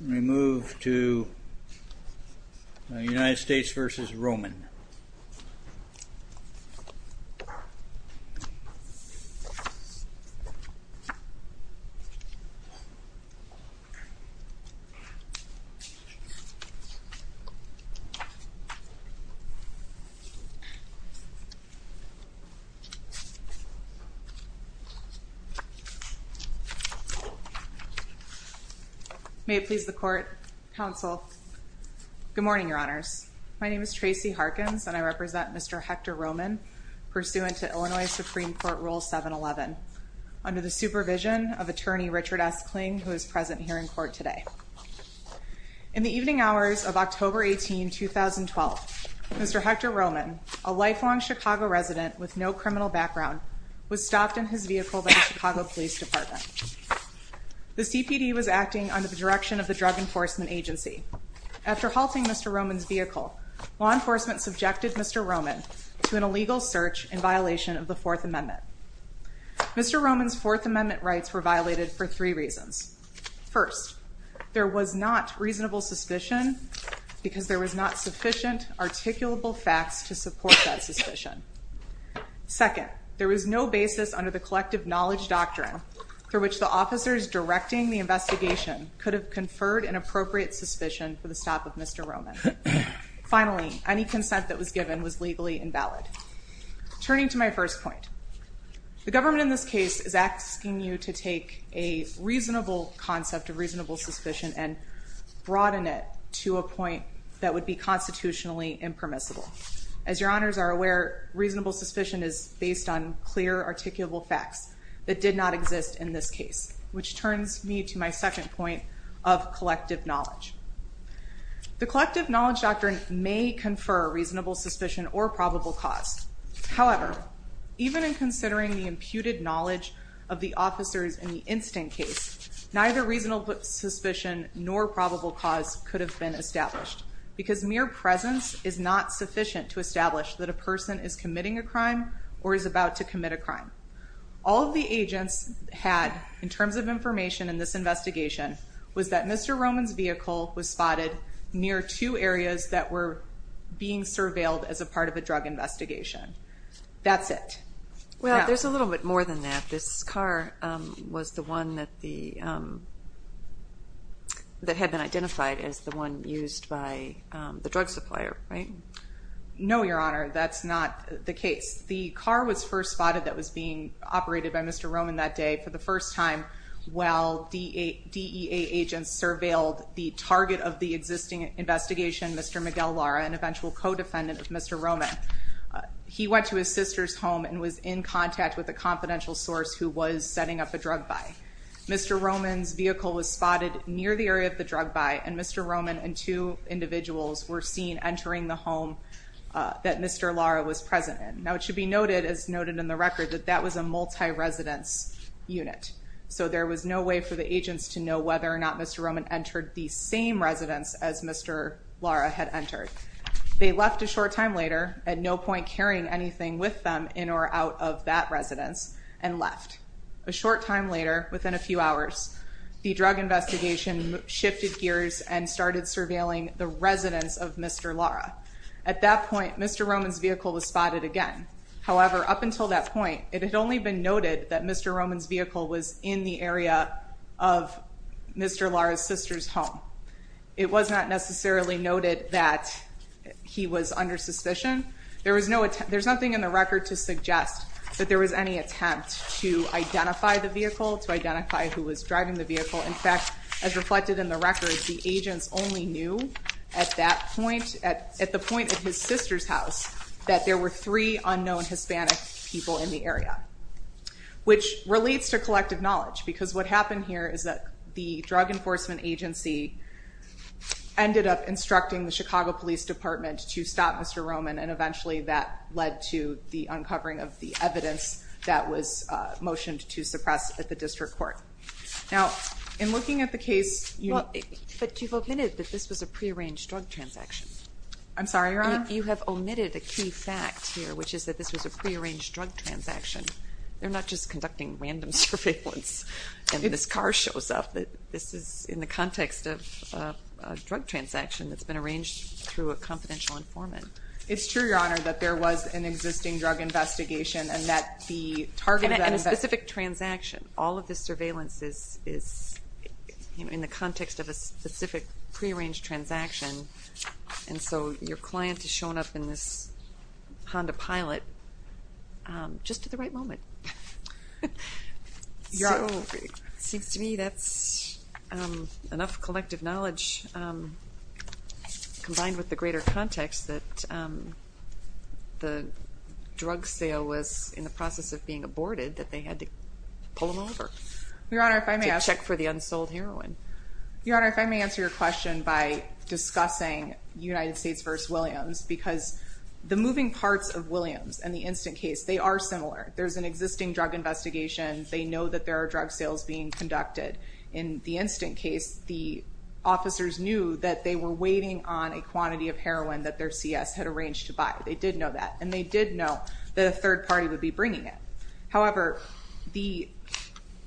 We move to United States v. Roman May it please the Court, Counsel. Good morning, Your Honors. My name is Tracy Harkins and I represent Mr. Hector Roman, pursuant to Illinois Supreme Court Rule 711, under the supervision of Attorney Richard S. Kling, who is present here in court today. In the evening hours of October 18, 2012, Mr. Hector Roman, a lifelong Chicago resident with no criminal background, was stopped in his vehicle by the Chicago Police Department. The CPD was acting under the direction of the Drug Enforcement Agency. After halting Mr. Roman's vehicle, law enforcement subjected Mr. Roman to an illegal search in violation of the Fourth Amendment. Mr. Roman's Fourth Amendment rights were violated for three reasons. First, there was not reasonable suspicion because there was not sufficient articulable facts to support that suspicion. Second, there was no basis under the collective knowledge doctrine through which the officers directing the investigation could have conferred an appropriate suspicion for the stop of Mr. Roman. Finally, any consent that was given was legally invalid. Turning to my first point, the government in this case is asking you to take a reasonable concept of reasonable suspicion and broaden it to a point that would be constitutionally impermissible. As Your Honors are aware, reasonable suspicion is based on clear articulable facts that did not exist in this case, which turns me to my second point of collective knowledge. The collective knowledge doctrine may confer reasonable suspicion or probable cause. However, even in considering the imputed knowledge of the officers in the instant case, neither reasonable suspicion nor probable cause could have been established because mere presence is not sufficient to establish that a person is committing a crime or is about to commit a crime. All of the agents had, in terms of information in this investigation, was that Mr. Roman's vehicle was spotted near two areas that were being surveilled as a part of a drug investigation. That's it. Well, there's a little bit more than that. This car was the one that had been identified as the one used by the drug supplier, right? No, Your Honor, that's not the case. The car was first spotted that was being operated by Mr. Roman that day for the first time while DEA agents surveilled the target of the existing investigation, Mr. Miguel Lara, an eventual co-defendant of Mr. Roman. He went to his sister's home and was in contact with a confidential source who was setting up a drug buy. Mr. Roman's vehicle was spotted near the area of the drug buy, and Mr. Roman and two individuals were seen entering the home that Mr. Lara was present in. Now, it should be noted, as noted in the record, that that was a multi-residence unit, so there was no way for the agents to know whether or not Mr. Roman entered the same residence as Mr. Lara had entered. They left a short time later, at no point carrying anything with them in or out of that residence, and left. A short time later, within a few hours, the drug investigation shifted gears and started surveilling the residence of Mr. Lara. At that point, Mr. Roman's vehicle was spotted again. However, up until that point, it had only been noted that Mr. Roman's vehicle was in the area of Mr. Lara's sister's home. It was not necessarily noted that he was under suspicion. There was no attempt, there's nothing in the record to suggest that there was any attempt to identify the vehicle, to identify who was driving the vehicle. In fact, as reflected in the record, the agents only knew at that point, at the point of his sister's house, that there were three unknown Hispanic people in the area. Which relates to collective knowledge, because what happened here is that the Drug Enforcement Agency ended up instructing the Chicago Police Department to stop Mr. Roman, and eventually that led to the uncovering of the evidence that was motioned to suppress at the district court. Now, in looking at the case, you know... But you've omitted that this was a pre-arranged drug transaction. I'm sorry, Your Honor? You have omitted a key fact here, which is that this was a pre-arranged drug transaction. They're not just conducting random surveillance, and this car shows up. This is in the context of a drug transaction that's been arranged through a confidential informant. It's true, Your Honor, that there was an existing drug investigation, and that the target of the transaction, all of this surveillance, is in the context of a specific pre-arranged transaction, and so your client has shown up in this Honda Pilot just at the right moment. So, it seems to me that's enough collective knowledge, combined with the greater context that the drug sale was in the process of being aborted, that they had to pull him over. Your Honor, if I may ask... To check for the unsold heroin. Your Honor, if I may answer your question by discussing United States v. Williams, because the moving parts of Williams and the instant case, they are similar. There's an existing drug investigation. They know that there are drug sales being conducted. In the instant case, the officers knew that they were waiting on a quantity of heroin that their CS had arranged to buy. They did know that, and they did know that a third party would be bringing it. However, the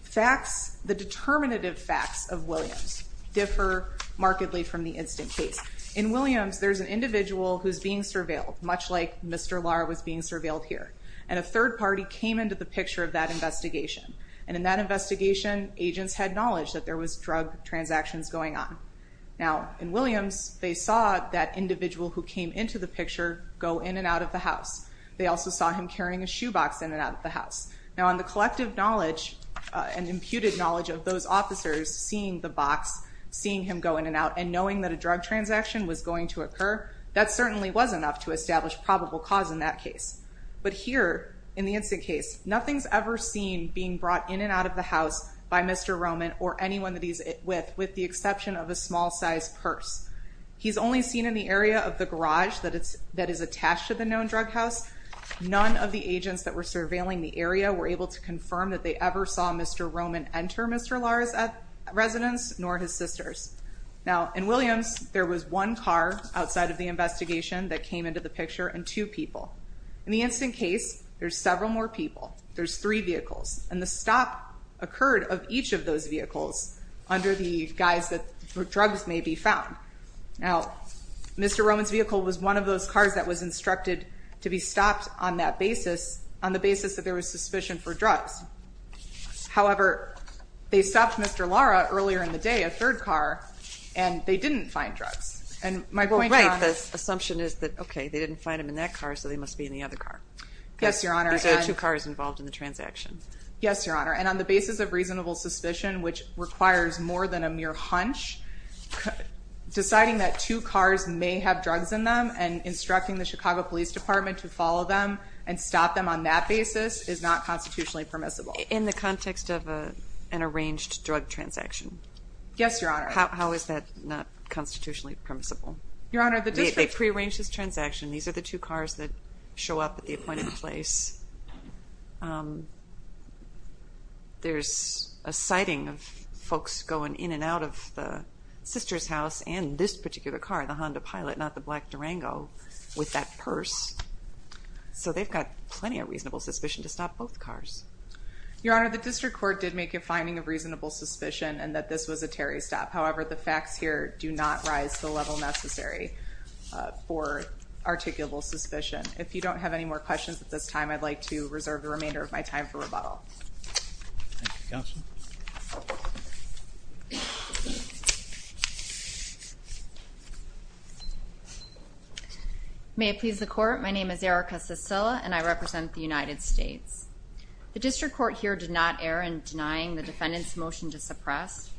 facts, the determinative facts of Williams differ markedly from the instant case. In Williams, there's an individual who's being surveilled, much like Mr. Lahr was being surveilled here, and a third party came into the picture of that investigation, and in that investigation, agents had knowledge that there was drug transactions going on. Now, in Williams, they saw that individual who came into the picture go in and out of the house. They also saw him carrying a shoebox in and out of the house. Now, on the collective knowledge and imputed knowledge of those officers seeing the box, seeing him go in and out, and knowing that a drug transaction was going to occur, that certainly was enough to establish probable cause in that case. But here, in the instant case, nothing's ever seen being brought in and out of the house by Mr. Roman or anyone that he's with, with the exception of a small-sized purse. He's only seen in the area of the garage that is attached to the known drug house. None of the agents that were surveilling the area were able to confirm that they ever saw Mr. Roman enter Mr. Lahr's residence, nor his sister's. Now, in Williams, there was one car outside of the investigation that came into the picture and two people. In the instant case, there's several more people. There's three vehicles, and the stop occurred of each of those vehicles under the guise that drugs may be found. Now, Mr. Roman's vehicle was one of those cars that was instructed to be stopped on that basis, on the basis that there was suspicion for drugs. However, they stopped Mr. Lahr earlier in the day, a third car, and they didn't find drugs. And my point, Your Honor... Well, right. The assumption is that, okay, they didn't find him in that car, so they must be in the other car. Yes, Your Honor. These are the two cars involved in the transaction. Yes, Your Honor. And on the basis of reasonable suspicion, which requires more than a mere hunch, deciding that two cars may have drugs in them and instructing the Chicago Police Department to follow them and stop them on that basis is not constitutionally permissible. In the context of an arranged drug transaction? Yes, Your Honor. How is that not constitutionally permissible? Your Honor, the district... They pre-arranged this transaction. These are the two cars that show up at the appointed place. There's a sighting of folks going in and out of the sister's house and this particular car, the Honda Pilot, not the black Durango, with that purse. So they've got plenty of reasonable suspicion to stop both cars. Your Honor, the district court did make a finding of reasonable suspicion, and that this was a Terry stop. However, the facts here do not rise to the level necessary for articulable suspicion. If you don't have any more questions at this time, I'd like to reserve the remainder of my time for rebuttal. Thank you, Counsel. May it please the Court, my name is Erica Sicila, and I represent the United States. The district court here did not err in denying the defendant's motion to suppress.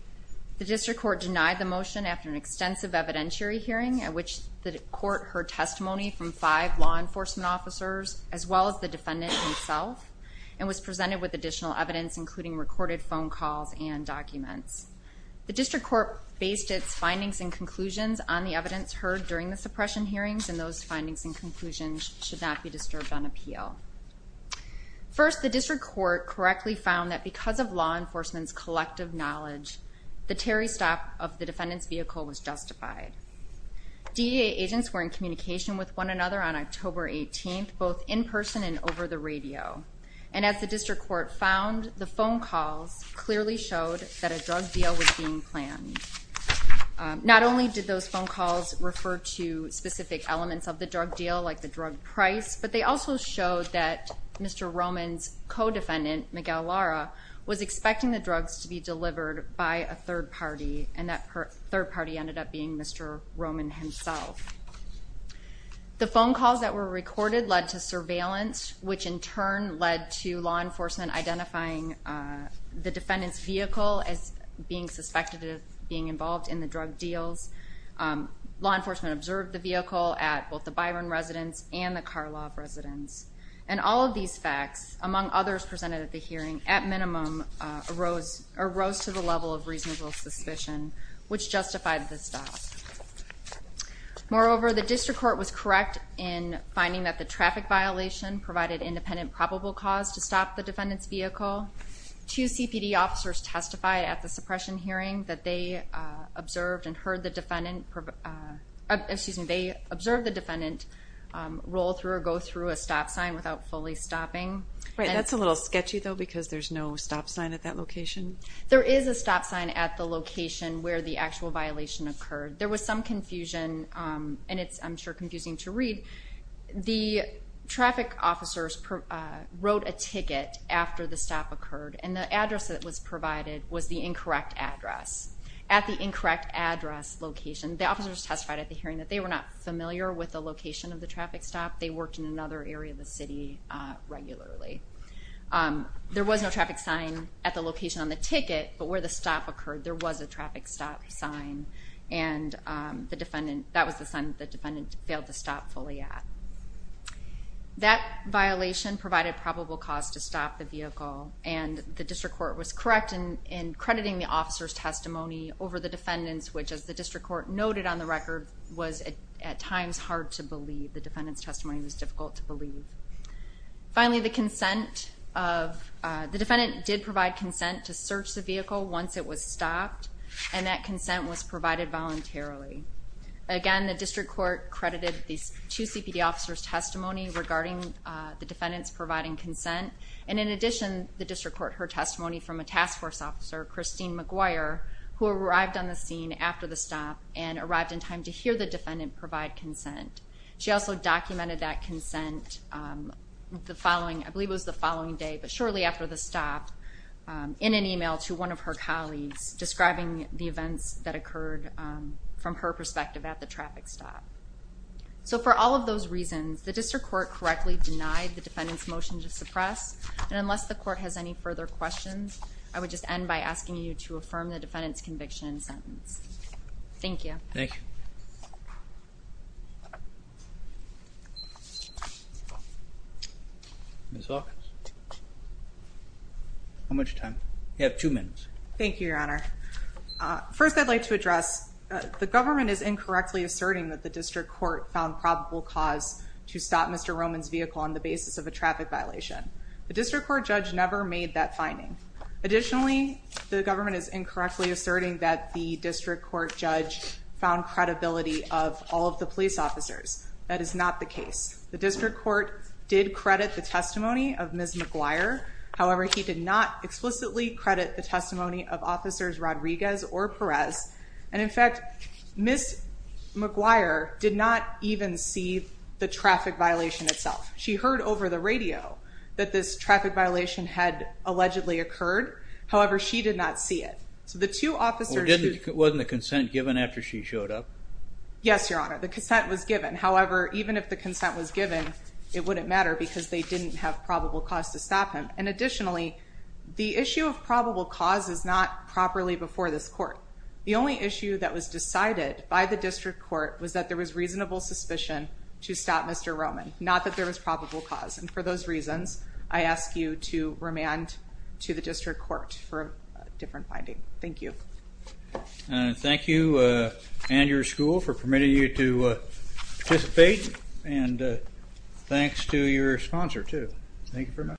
The district court denied the motion after an extensive evidentiary hearing, at which the court heard testimony from five law enforcement officers, as well as the defendant himself, and was presented with additional evidence, including recorded phone calls and documents. The district court based its findings and conclusions on the evidence heard during the suppression hearings, and those findings and conclusions should not be disturbed on appeal. First, the district court correctly found that because of law enforcement's collective knowledge, the Terry stop of the defendant's vehicle was justified. DEA agents were in communication with one another on October 18th, both in person and over the radio. And as the district court found, the phone calls clearly showed that a drug deal was being planned. Not only did those phone calls refer to specific elements of the drug deal, like the drug price, but they also showed that Mr. Roman's co-defendant, Miguel Lara, was expecting the drugs to be delivered by a third party, and that third party ended up being Mr. Roman himself. The phone calls that were recorded led to surveillance, which in turn led to law enforcement identifying the defendant's vehicle as being suspected of being involved in the drug deals. Law enforcement observed the vehicle at both the Byron residence and the Karlov residence. And all of these facts, among others presented at the hearing, at minimum, arose to the level of reasonable suspicion, which justified the stop. Moreover, the district court was correct in finding that the traffic violation provided independent probable cause to stop the defendant's vehicle. Two CPD officers testified at the suppression hearing that they observed and heard the defendant, excuse me, they observed the defendant roll through or go through a stop sign without fully stopping. Right, that's a little sketchy, though, because there's no stop sign at that location? There is a stop sign at the location where the actual violation occurred. There was some confusion, and it's, I'm sure, confusing to read. The traffic officers wrote a ticket after the stop occurred, and the address that was provided was the incorrect address. At the incorrect address location, the officers testified at the hearing that they were not familiar with the location of the traffic stop. They worked in another area of the city regularly. There was no traffic sign at the location on the ticket, but where the stop occurred, there was a traffic stop sign, and the defendant, that was the sign that the and the district court was correct in crediting the officer's testimony over the defendant's, which, as the district court noted on the record, was at times hard to believe. The defendant's testimony was difficult to believe. Finally, the consent of, the defendant did provide consent to search the vehicle once it was stopped, and that consent was provided voluntarily. Again, the district court credited these two CPD officers' testimony regarding the defendant's providing consent, and in addition, the district court heard testimony from a task force officer, Christine McGuire, who arrived on the scene after the stop and arrived in time to hear the defendant provide consent. She also documented that consent the following, I believe it was the following day, but shortly after the stop, in an email to one of her colleagues, describing the events that occurred from her perspective at the motion to suppress, and unless the court has any further questions, I would just end by asking you to affirm the defendant's conviction and sentence. Thank you. Thank you. How much time? You have two minutes. Thank you, Your Honor. First, I'd like to address the government is incorrectly asserting that the district court found probable cause to stop Mr. Roman's vehicle on the basis of a traffic violation. The district court judge never made that finding. Additionally, the government is incorrectly asserting that the district court judge found credibility of all of the police officers. That is not the case. The district court did credit the testimony of Ms. McGuire. However, he did not explicitly credit the testimony of officers Rodriguez or Perez, and in fact, Ms. McGuire did not even see the traffic violation itself. She heard over the radio that this traffic violation had allegedly occurred. However, she did not see it. So the two officers... Wasn't the consent given after she showed up? Yes, Your Honor. The consent was given. However, even if the consent was given, it wouldn't matter because they didn't have probable cause to stop him. And additionally, the issue of probable cause is not properly before this court. The only issue that was decided by the district court was that there was reasonable suspicion to stop Mr. Roman, not that there was probable cause. And for those reasons, I ask you to remand to the district court for a different finding. Thank you. Thank you and your school for permitting you to participate, and thanks to your sponsor too. Thank you very much.